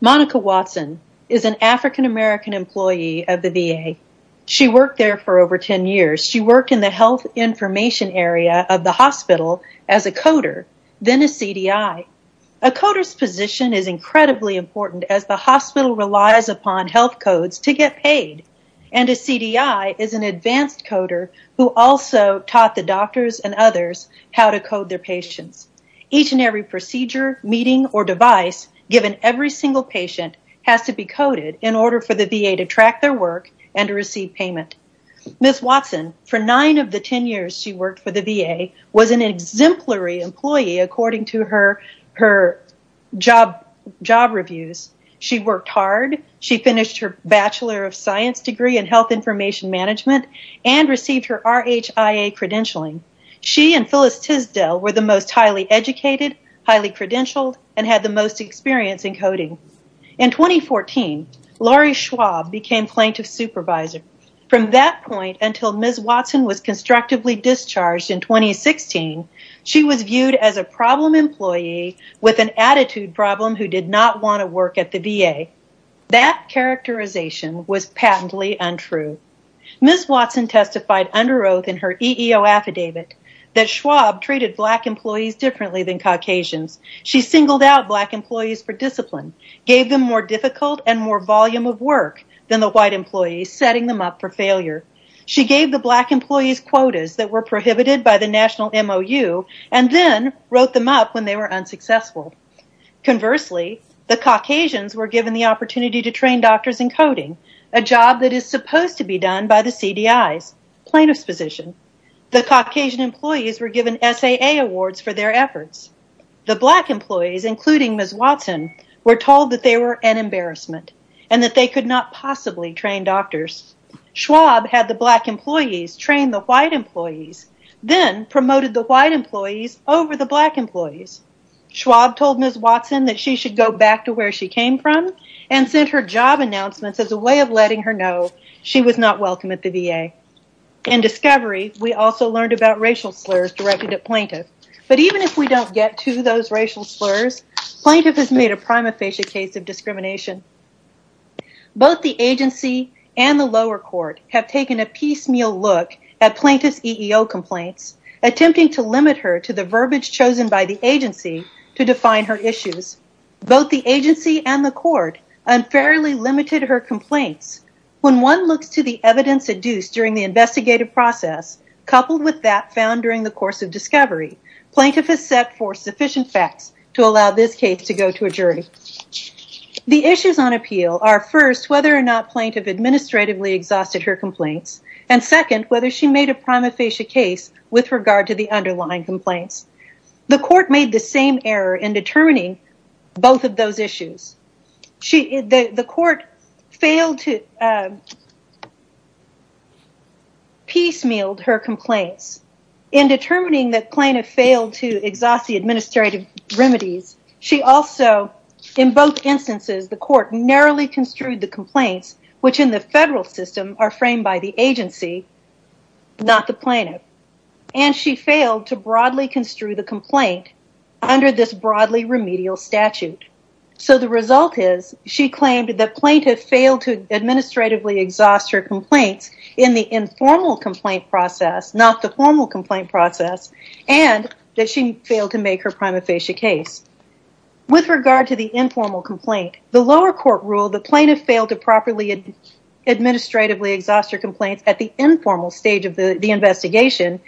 Monica Watson is an African American employee of the VA. She worked there for over 10 years. She worked in the health information area of the hospital as a coder, then a CDI. A coder's position is incredibly important as the hospital relies upon health codes to get paid. A CDI is an advanced coder who also taught the doctors and others how to code their patients. Each and every procedure, meeting, or device given every single patient has to be coded in order for the VA to track their work and to receive payment. Ms. Watson, for 9 of the 10 years she worked for the VA, was an exemplary employee according to her job reviews. She worked hard. She finished her Bachelor of Science degree in health information management and received her RHIA credentialing. She and Phyllis Tisdale were the most highly educated, highly credentialed, and had the most experience in coding. In 2014, Lori Schwab became plaintiff's supervisor. From that point until Ms. Watson was constructively discharged in 2016, she was viewed as a problem employee with an attitude problem who did not want to work at the VA. That characterization was patently untrue. Ms. Watson testified under oath in her EEO affidavit that Schwab treated black employees differently than Caucasians. She singled out black employees for discipline, gave them more difficult and more volume of work than the white employees, setting them up for failure. She gave the black employees quotas that were prohibited by the National MOU and then wrote them up when they were unsuccessful. Conversely, the Caucasians were given the opportunity to train doctors in coding, a job that is supposed to be done by the CDIs, plaintiff's position. The Caucasian black employees, including Ms. Watson, were told that they were an embarrassment and that they could not possibly train doctors. Schwab had the black employees train the white employees, then promoted the white employees over the black employees. Schwab told Ms. Watson that she should go back to where she came from and sent her job announcements as a way of letting her know she was not welcome at the VA. In discovery, we also learned about racial slurs directed at plaintiff, but even if we don't get to those racial slurs, plaintiff has made a prima facie case of discrimination. Both the agency and the lower court have taken a piecemeal look at plaintiff's EEO complaints, attempting to limit her to the verbiage chosen by the agency to define her issues. Both the agency and the court unfairly limited her complaints. When one looks to the evidence adduced during the investigative process, coupled with that found during the course of discovery, plaintiff is set for sufficient facts to allow this case to go to a jury. The issues on appeal are first, whether or not plaintiff administratively exhausted her complaints, and second, whether she made a prima facie case with regard to the underlying complaints. The court made the same error in determining both of those her complaints. In determining that plaintiff failed to exhaust the administrative remedies, she also, in both instances, the court narrowly construed the complaints, which in the federal system are framed by the agency, not the plaintiff. And she failed to broadly construe the complaint under this broadly remedial statute. So the result is, she claimed that plaintiff failed to administratively exhaust her complaints in the informal complaint process, not the formal complaint process, and that she failed to make her prima facie case. With regard to the informal complaint, the lower court ruled that plaintiff failed to properly administratively exhaust her complaints at the informal stage of the investigation,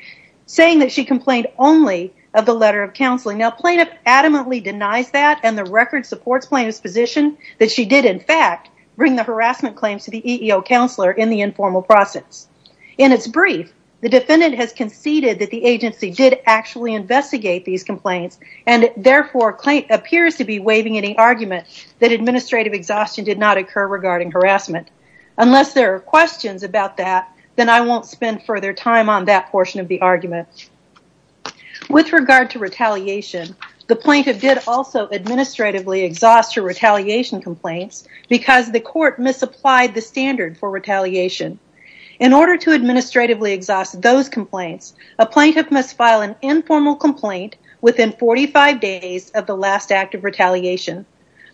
saying that she complained only of the letter of counseling. Now, plaintiff adamantly denies that, and the record supports plaintiff's position that she did, in fact, bring the harassment claims to the EEO counselor in the informal process. In its brief, the defendant has conceded that the agency did actually investigate these complaints, and therefore, plaintiff appears to be waiving any argument that administrative exhaustion did not occur regarding harassment. Unless there are questions about that, then I won't spend further time on that portion of the argument. With regard to retaliation, the plaintiff did also administratively exhaust her retaliation complaints because the court misapplied the standard for retaliation. In order to administratively exhaust those complaints, a plaintiff must file an informal complaint within 45 days of the last act of retaliation.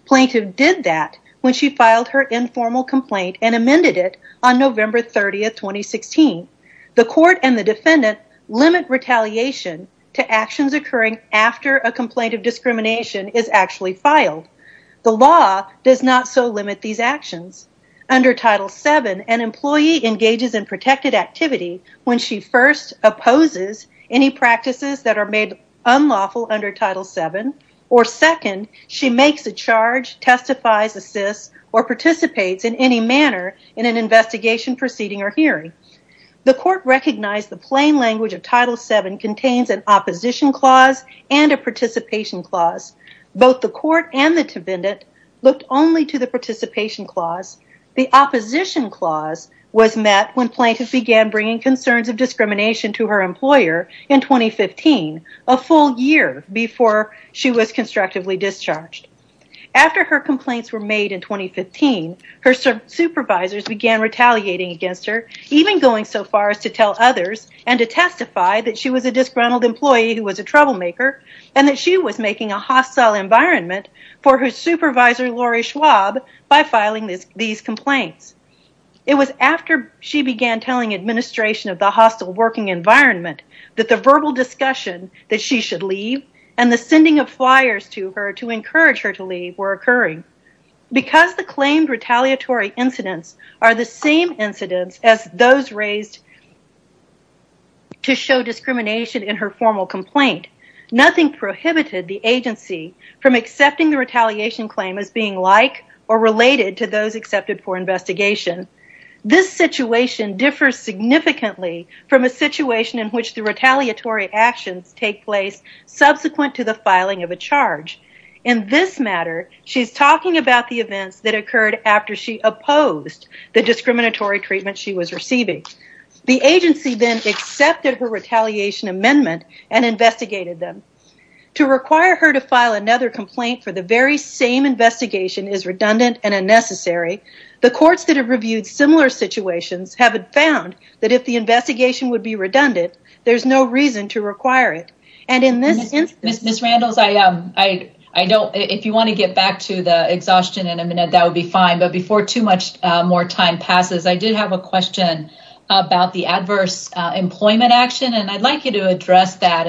Plaintiff did that when she filed her informal complaint and amended it on November 30th, 2016. The court and the defendant limit retaliation to actions occurring after a complaint of discrimination is actually filed. The law does not so limit these actions. Under Title VII, an employee engages in protected activity when she first opposes any practices that are made unlawful under Title VII, or second, she makes a charge, testifies, assists, or participates in any manner in an investigation, proceeding, or hearing. The court recognized the plain language of Title VII contains an opposition clause and a participation clause. Both the court and the defendant looked only to the participation clause. The opposition clause was met when plaintiff began bringing concerns of discrimination to her employer in 2015, a full year before she was fired. Plaintiff's supervisors began retaliating against her, even going so far as to tell others and to testify that she was a disgruntled employee who was a troublemaker and that she was making a hostile environment for her supervisor, Lori Schwab, by filing these complaints. It was after she began telling administration of the hostile working environment that the verbal discussion that she should leave and the sending of flyers to her to encourage her to leave were occurring. Because the claimed retaliatory incidents are the same incidents as those raised to show discrimination in her formal complaint, nothing prohibited the agency from accepting the retaliation claim as being like or related to those accepted for investigation. This situation differs significantly from a situation in which the retaliatory actions take place subsequent to the investigation. The agency accepted her retaliation amendment and investigated them. To require her to file another complaint for the very same investigation is redundant and unnecessary. The courts that have reviewed similar situations have found that if the investigation would be redundant, there's no reason to require it. And in this instance... Ms. Randles, if you want to get back to the exhaustion in a minute, that would be fine. But before too much more time passes, I did have a question about the adverse employment action. And I'd like you to address that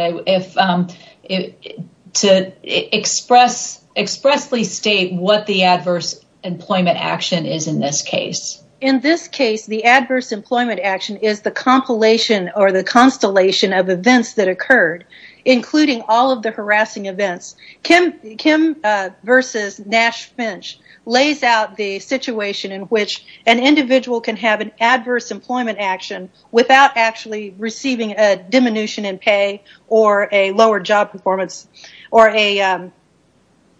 to expressly state what the adverse employment action is in this case. In this case, the adverse employment action is the compilation or the constellation of events that are harassing events. Kim versus Nash Finch lays out the situation in which an individual can have an adverse employment action without actually receiving a diminution in pay or a lower job performance or a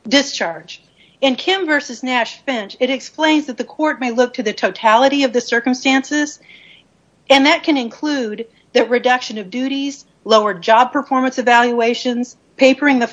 discharge. In Kim versus Nash Finch, it explains that the court may look to the totality of the circumstances. And that can include the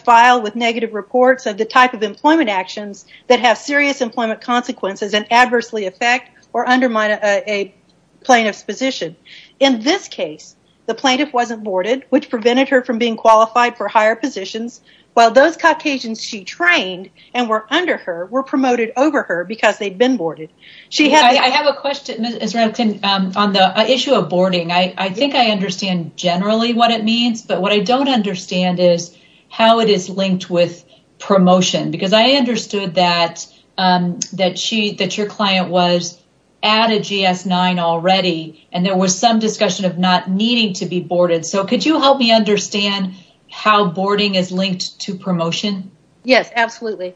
file with negative reports of the type of employment actions that have serious employment consequences and adversely affect or undermine a plaintiff's position. In this case, the plaintiff wasn't boarded, which prevented her from being qualified for higher positions, while those Caucasians she trained and were under her were promoted over her because they'd been boarded. I have a question, Ms. Israel, on the issue of boarding. I think I understand generally what it means. But what I don't understand is how it is linked with promotion. Because I understood that your client was at a GS-9 already, and there was some discussion of not needing to be boarded. So could you help me understand how boarding is linked to promotion? Yes, absolutely.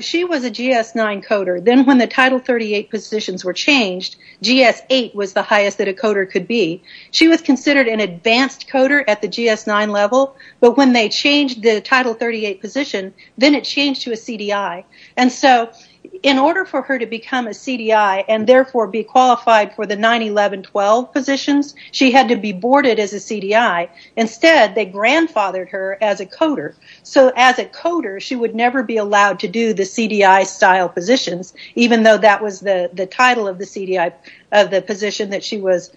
She was a GS-9 coder. Then when the Title 38 positions were changed, GS-8 was the highest that a coder could be. She was considered an advanced coder at the GS-9 level. But when they changed the Title 38 position, then it changed to a CDI. And so in order for her to become a CDI and therefore be qualified for the 9, 11, 12 positions, she had to be boarded as a CDI. Instead, they grandfathered her as a coder. So as a coder, she would never be allowed to do the CDI style positions, even though that was the title of the position that she was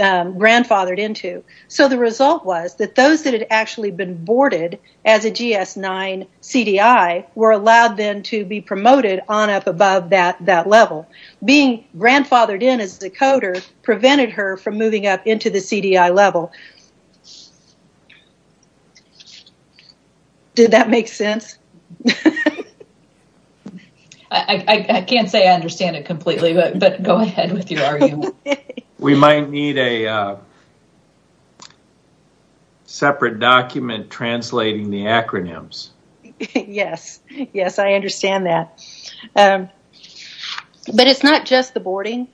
grandfathered into. So the result was that those that had actually been boarded as a GS-9 CDI were allowed then to be promoted on up above that level. Being grandfathered in as a coder prevented her from moving up into the CDI level. Did that make sense? I can't say I understand it completely, but go ahead with your argument. We might need a separate document translating the acronyms. Yes, yes, I understand that. But it's not just the boarding.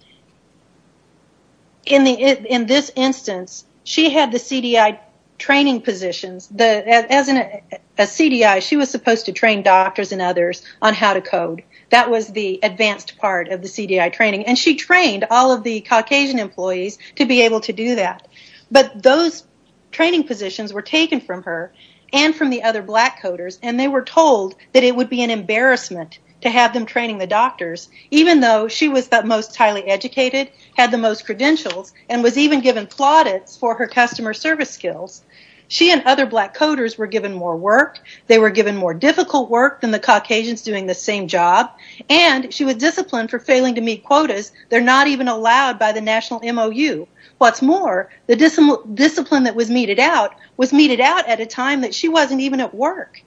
In this instance, she had the CDI training positions. As a CDI, she was supposed to train doctors and others on how to code. That was the advanced part of the CDI training. And she trained all of the Caucasian employees to be able to do that. But those training positions were taken from her and from the other black coders, and they were told that it would be an embarrassment to have them training the doctors, even though she was the most highly educated, had the most credentials, and was even given plaudits for her customer service skills. She and other black coders were given more work. They were given more difficult work than the Caucasians doing the same job. And she was disciplined for failing to meet quotas. They're not even allowed by the National MOU. What's more, the discipline that was meted out was meted out at a time that she wasn't even at work.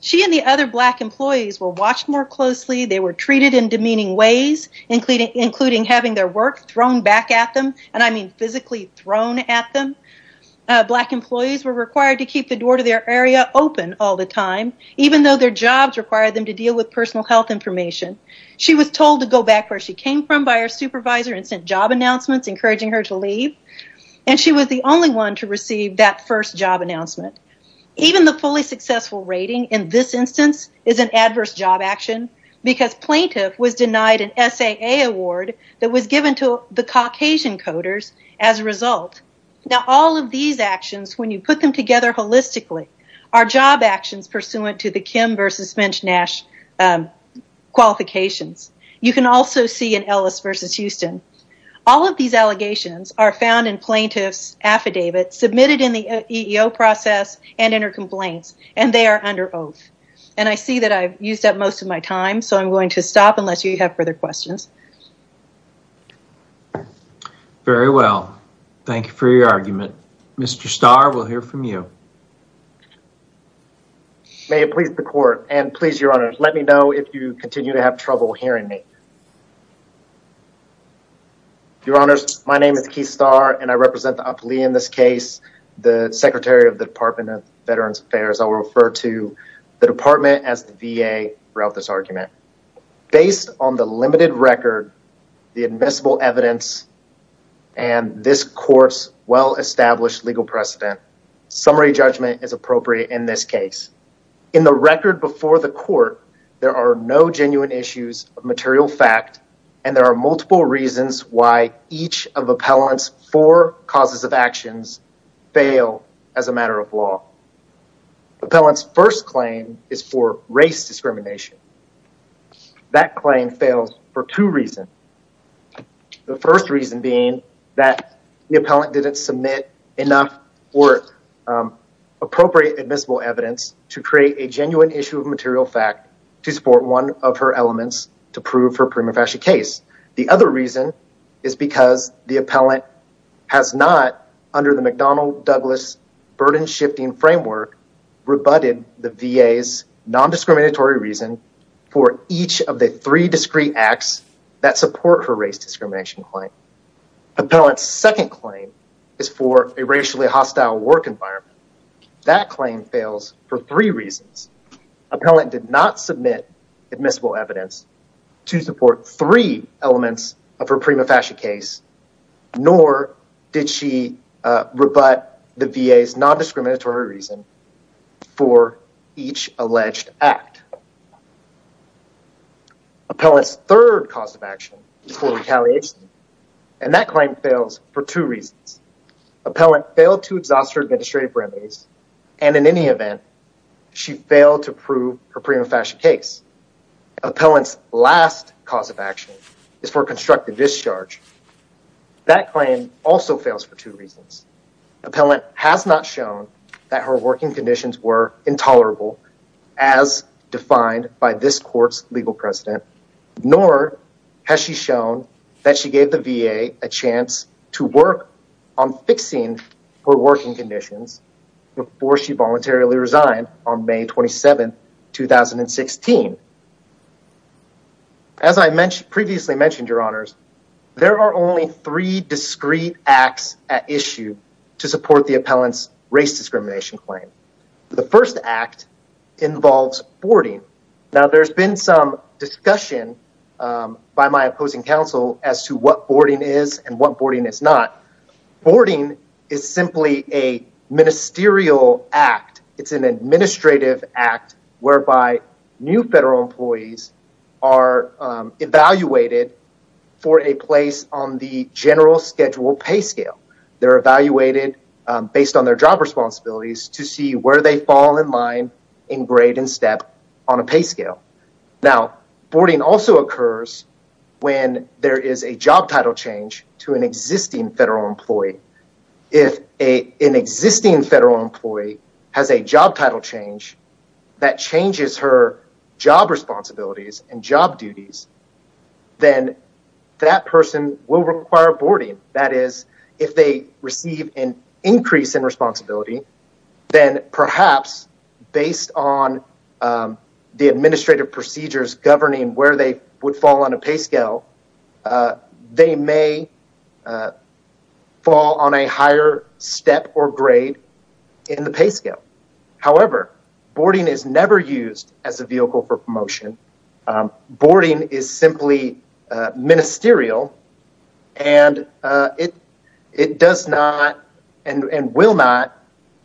She and the other black employees were physically thrown at them. Black employees were required to keep the door to their area open all the time, even though their jobs required them to deal with personal health information. She was told to go back where she came from by her supervisor and sent job announcements encouraging her to leave, and she was the only one to receive that first job announcement. Even the fully successful rating in this instance is an adverse job action, because plaintiff was denied an SAA award that was given to the Caucasian coders as a result. Now, all of these actions, when you put them together holistically, are job actions pursuant to the Kim versus Finch-Nash qualifications. You can also see an Ellis versus Houston. All of these allegations are found in plaintiff's affidavits submitted in the EEO process and in her complaints, and they are under oath. I see that I've used up most of my time, so I'm going to stop unless you have further questions. Very well. Thank you for your argument. Mr. Starr, we'll hear from you. May it please the court, and please, Your Honors, let me know if you continue to have trouble hearing me. Your Honors, my name is Keith Starr, and I represent the Aplii in this case, the Secretary of the Department of Veterans Affairs. I will refer to the record of this argument. Based on the limited record, the admissible evidence, and this court's well-established legal precedent, summary judgment is appropriate in this case. In the record before the court, there are no genuine issues of material fact, and there are multiple reasons why each of these claims fails. That claim fails for two reasons. The first reason being that the appellant didn't submit enough or appropriate admissible evidence to create a genuine issue of material fact to support one of her elements to prove her prima facie case. The other reason is because the appellant has not, under the McDonnell-Douglas burden-shifting framework, rebutted the VA's nondiscriminatory reason for each of the three discrete acts that support her race discrimination claim. Appellant's second claim is for a racially hostile work environment. That claim fails for three reasons. Appellant did not rebut the VA's nondiscriminatory reason for each alleged act. Appellant's third cause of action is for retaliation, and that claim fails for two reasons. Appellant failed to exhaust her administrative remedies, and in any event, she failed to prove her prima facie case. Appellant's last cause of action is for constructive discharge. That claim also fails for two reasons. Appellant has not shown that her working conditions were intolerable, as defined by this court's legal precedent, nor has she shown that she gave the VA a chance to work on fixing her working conditions before she voluntarily resigned on May 27, 2016. As I previously mentioned, Your Honors, there are only three discrete acts at issue to support the appellant's race discrimination claim. The first act involves boarding. Now, there's been some discussion by my opposing counsel as to what boarding is and what boarding is not. Boarding is simply a ministerial act. It's an act where two federal employees are evaluated for a place on the general schedule pay scale. They're evaluated based on their job responsibilities to see where they fall in line in grade and step on a pay scale. Now, boarding also occurs when there is a job title change to an existing federal employee. If an existing federal employee has a job title change that changes her job responsibilities and job duties, then that person will require boarding. That is, if they receive an increase in responsibility, then perhaps based on the administrative procedures governing where they would fall on a pay scale, they may fall on a higher step or grade in the pay scale. However, boarding is never used as a vehicle for promotion. Boarding is simply ministerial and it does not and will not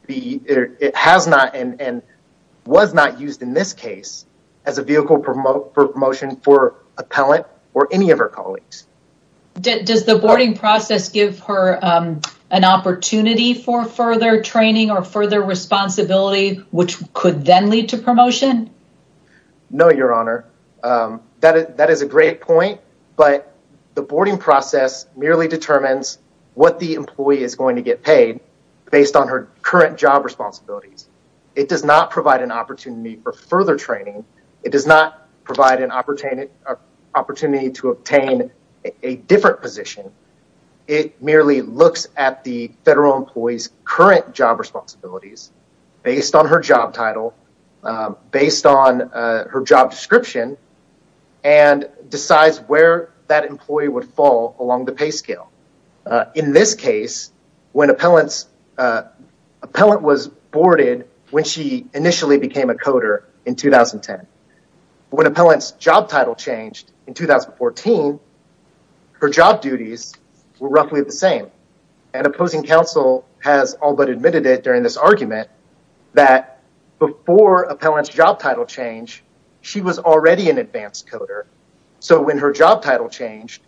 be, it has not and was not used in this case as a vehicle for promotion for their responsibility, which could then lead to promotion? No, Your Honor. That is a great point, but the boarding process merely determines what the employee is going to get paid based on her current job responsibilities, based on her job title, based on her job description, and decides where that employee would fall along the pay scale. In this case, when an appellant was boarded when she initially became a coder in 2010, when an appellant's job title changed in 2014, her job duties were roughly the same and opposing counsel has all but admitted that during this argument that before an appellant's job title change, she was already an advanced coder, so when her job title changed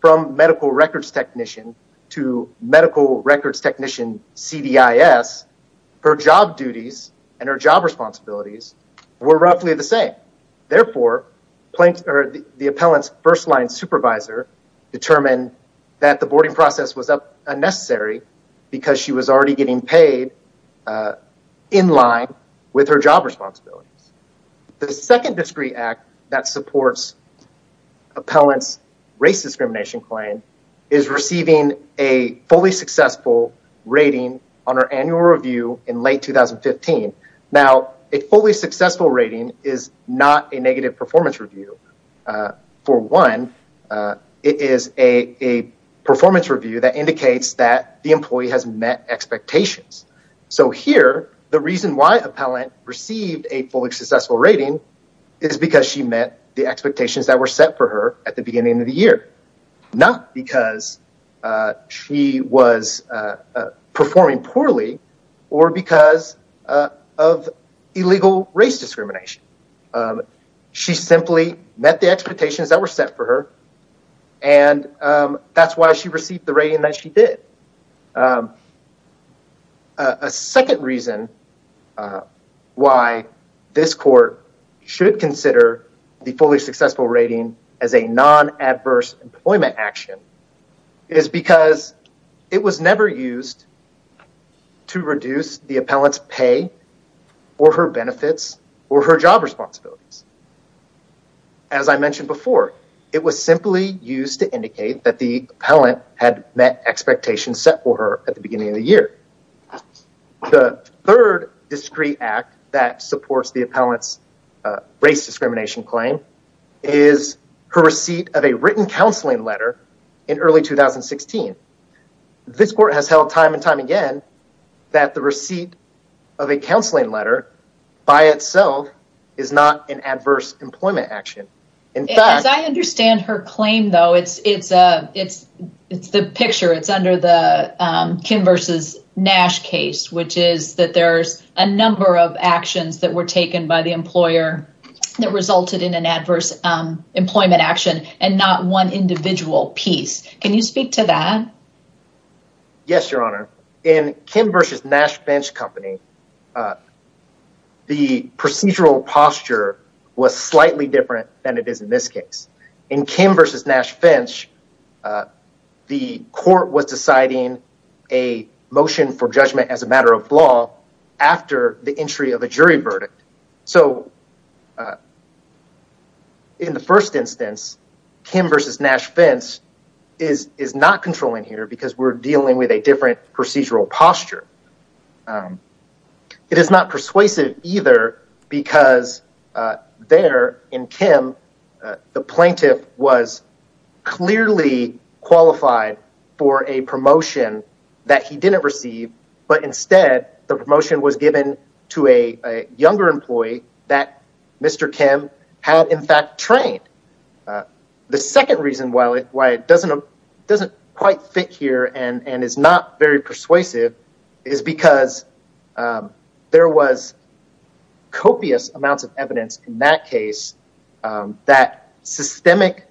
from medical records technician to medical records technician CDIS, her job duties and her job responsibilities were roughly the same. Therefore, the appellant's first-line supervisor determined that the boarding process was unnecessary because she was already getting paid in line with her job responsibilities. The second discreet act that supports appellant's race discrimination claim is receiving a fully successful rating on her annual review in late 2015. Now, a fully successful rating is not a negative performance review. For one, it is a performance review that indicates that the employee has met expectations. So here, the reason why an appellant received a fully successful rating is because she met the expectations that were set for her at the beginning of the year, not because she was performing poorly or because of illegal race discrimination. She simply met the expectations that were set for her, and that's why she received the rating that she did. A second reason why this court should consider the fully successful rating as a non-adverse employment action is because it was never used to reduce the appellant's pay or her benefits or her job responsibilities. As I mentioned before, it was simply used to indicate that the appellant had met expectations set for her at the beginning of the year. The third discreet act that supports the appellant's race discrimination claim is her receipt of a written counseling letter in early 2016. This court has held time and time again that the receipt of a counseling letter by itself is not an adverse employment action. As I understand her claim though, it's the picture. It's under the Kim v. Nash case, which is that there's a number of actions that were taken by the employer that resulted in an adverse employment action and not one individual piece. Can you speak to that? Yes, your honor. In Kim v. Nash Finch company, the procedural posture was slightly different than it is in this case. In Kim v. Nash Finch, the court was deciding a motion for judgment as a matter of law after the entry of a jury verdict. So in the first instance, Kim v. Nash Finch is not controlling here because we're dealing with a different procedural posture. It is not persuasive either because there in Kim, the plaintiff was clearly qualified for a promotion that he didn't receive, but instead the promotion was given to a younger employee that Mr. Kim had in fact trained. The second reason why it doesn't quite fit here and is not very persuasive is because there was copious amounts of evidence in that case that systemic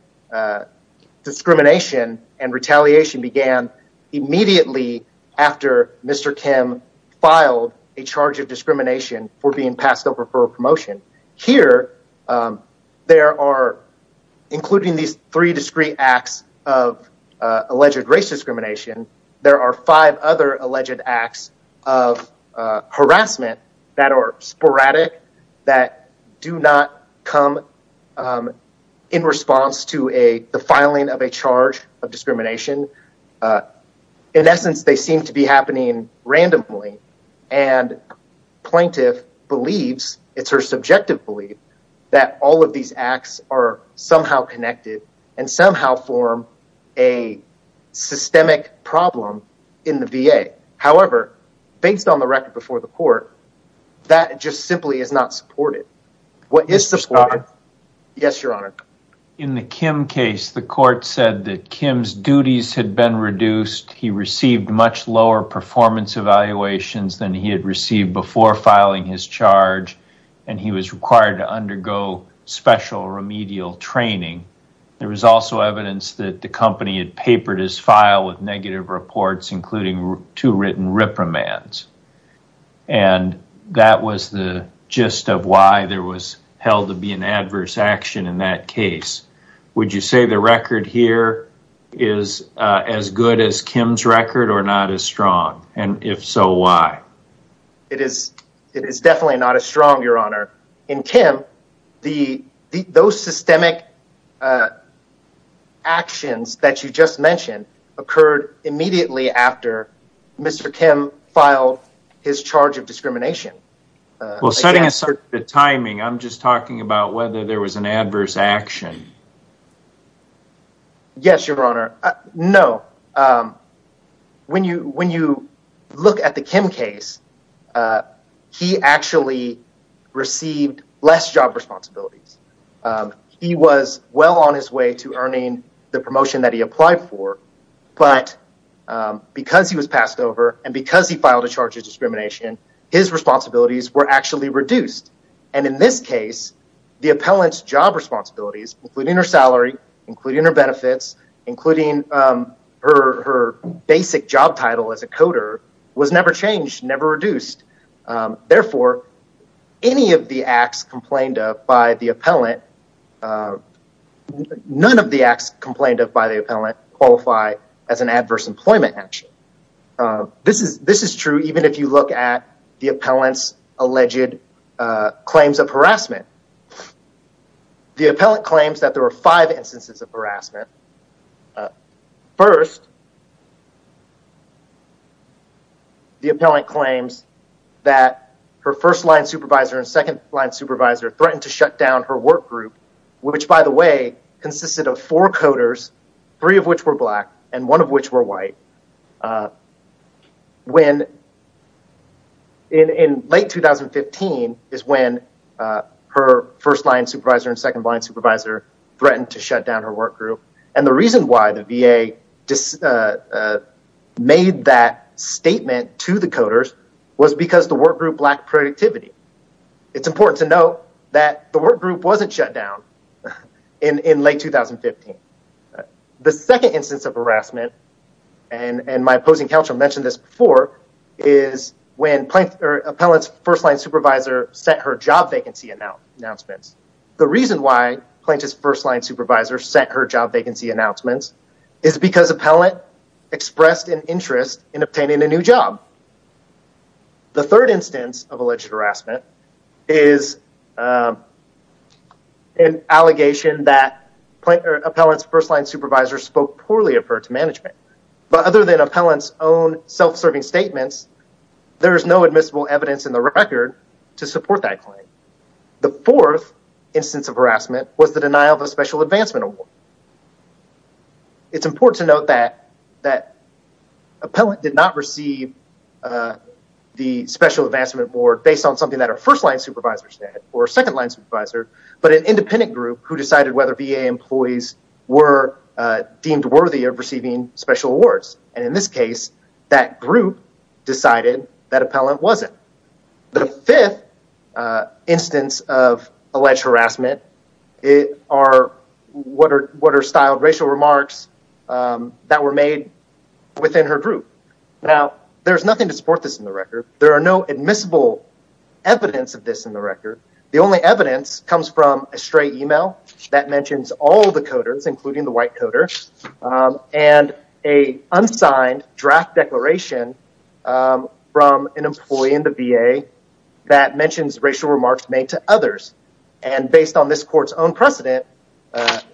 discrimination and retaliation began immediately after Mr. Kim filed a charge of discrimination for being passed over for a promotion. Here, there are, including these three discrete acts of alleged race discrimination, there are five other alleged acts of harassment that are sporadic that do not come in response to a filing of a charge of discrimination. In essence, they seem to be happening randomly and plaintiff believes, it's her subjective belief, that all of these acts are somehow connected and somehow form a systemic problem in the VA. However, based on the record before the court, that just simply is not supported. Is supported? Yes, your honor. In the Kim case, the court said that Kim's duties had been reduced. He received much lower performance evaluations than he had received before filing his charge and he was required to undergo special remedial training. There was also evidence that the company had papered his file with negative reports, including two written reprimands. And that was the gist of why there was held to be an adverse action in that case. Would you say the record here is as good as Kim's record or not as strong? And if so, why? It is definitely not as strong, your honor. In Kim, those systemic actions that you just mentioned occurred immediately after Mr. Kim filed his charge of discrimination. Well, setting aside the timing, I'm just talking about whether there was an adverse action. Yes, your honor. No. When you look at the Kim case, he actually received less job responsibilities. He was well on his way to earning the promotion that he applied for. But because he was passed over and because he filed a charge of discrimination, his responsibilities were actually reduced. And in this case, the appellant's job responsibilities, including her salary, including her benefits, including her basic job title as a coder was never changed, never reduced. Therefore, any of the acts complained of by the appellant, none of the acts complained of by the appellant qualify as an adverse employment action. This is true even if you look at the appellant's alleged claims of harassment. The appellant claims that there were five instances of harassment. First, the appellant claims that her first line supervisor and second line supervisor threatened to shut down her work group, which, by the way, consisted of four coders, three of which were black and one of which were white. And the reason why the VA made that statement to the coders was because the work group lacked productivity. It's important to note that the work group wasn't shut down in late 2015. The second instance of harassment, and my opposing counsel mentioned this before, is when the appellant's first line supervisor set her job vacancy announcements. The reason why the plaintiff's first line supervisor set her job vacancy announcements is because the appellant expressed an interest in obtaining a new job. The third instance of alleged harassment is an allegation that appellant's first line supervisor spoke poorly of her to management. But other than appellant's own self-serving statements, there is no admissible evidence in the record to support that claim. The fourth instance of harassment was the denial of a special advancement award. And it's important to note that appellant did not receive the special advancement award based on something that her first line supervisor said or second line supervisor, but an independent group who decided whether VA employees were deemed worthy of receiving special awards. And in this case, that group decided that appellant wasn't. The fifth instance of alleged harassment are what are styled racial remarks that were made within her group. Now, there's nothing to support this in the record. There are no admissible evidence of this in the record. The only evidence comes from a stray email that mentions all the coders, including the white coder, and a unsigned draft declaration from an employee in the VA that mentions racial remarks made to others. And based on this court's own precedent,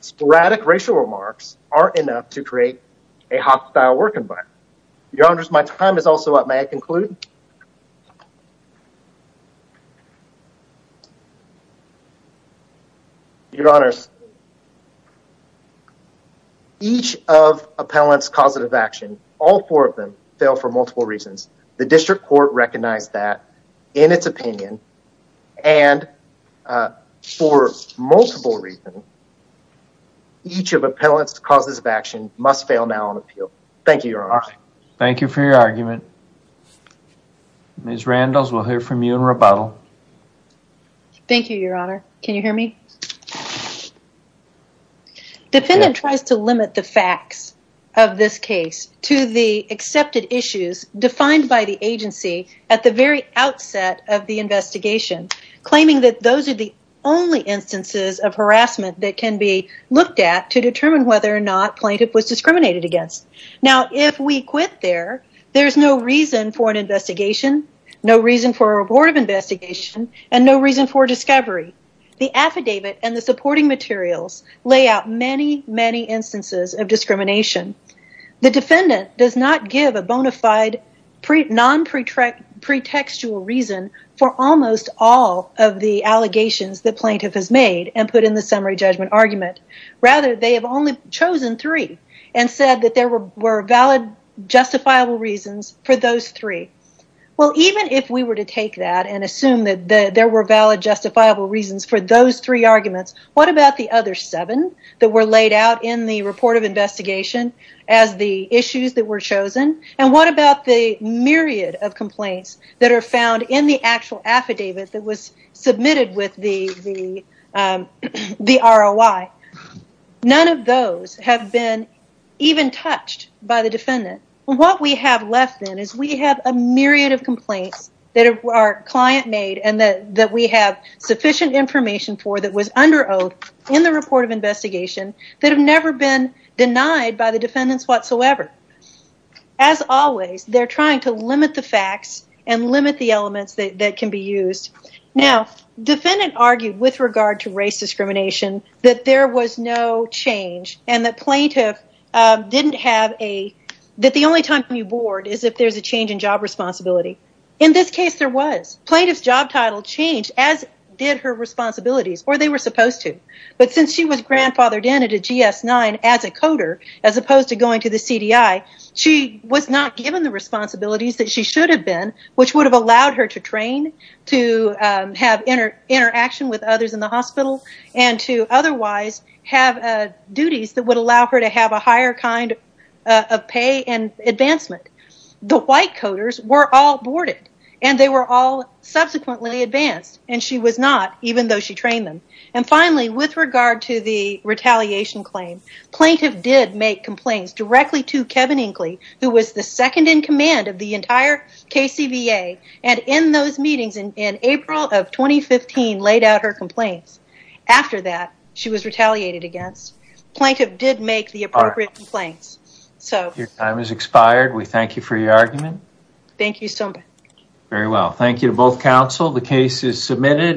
sporadic racial remarks aren't enough to create a hostile work environment. Your honors, my time is also up. May I conclude? Your honors. Each of appellant's causes of action, all four of them, fail for multiple reasons. The district court recognized that in its opinion. And for multiple reasons, each of appellant's causes of action must fail now on appeal. Thank you, your honors. Thank you for your argument. Ms. Randles, we'll hear from you in rebuttal. Thank you, your honor. Can you hear me? Yes. Defendant tries to limit the facts of this case to the accepted issues defined by the agency at the very outset of the investigation, claiming that those are the only instances of harassment that can be looked at to determine whether or not plaintiff was discriminated against. Now, if we quit there, there's no reason for an investigation, no reason for a report of investigation, and no reason for discovery. The affidavit and the supporting materials lay out many, many instances of discrimination. The defendant does not give a bonafide, non-pretextual reason for almost all of the allegations the plaintiff has made and put in the summary judgment argument. Rather, they have only chosen three and said that there were valid, justifiable reasons for those three. Well, even if we were to take that and assume that there were valid, justifiable reasons for those three arguments, what about the other seven that were laid out in the report of investigation as the issues that were chosen? And what about the myriad of complaints that are found in the actual affidavit that was submitted with the ROI? None of those have been even touched by the defendant. What we have left then is we have a myriad of complaints that our client made and that we have sufficient information for that was under oath in the report of investigation that have never been denied by the defendants whatsoever. As always, they're trying to limit the facts and limit the elements that can be used. Now, defendant argued with regard to race discrimination that there was no change and that the only time you board is if there's a change in job responsibility. In this case, there was. Plaintiff's job title changed as did her responsibilities, or they were supposed to. But since she was grandfathered in at a GS-9 as a coder, as opposed to going to the CDI, she was not given the responsibilities that she should have been, which would have allowed her to train, to have interaction with others in the hospital, and to otherwise have duties that would allow her to have a higher kind of pay and advancement. The white coders were all boarded, and they were all subsequently advanced, and she was not, even though she trained them. Finally, with regard to the retaliation claim, plaintiff did make complaints directly to Kevin Inkley, who was the second in command of the entire KCVA, and in those meetings in April of 2015 laid out her complaints. After that, she was retaliated against. Plaintiff did make the appropriate complaints. Your time has expired. We thank you for your argument. Thank you so much. Very well. Thank you to both counsel. The case is submitted.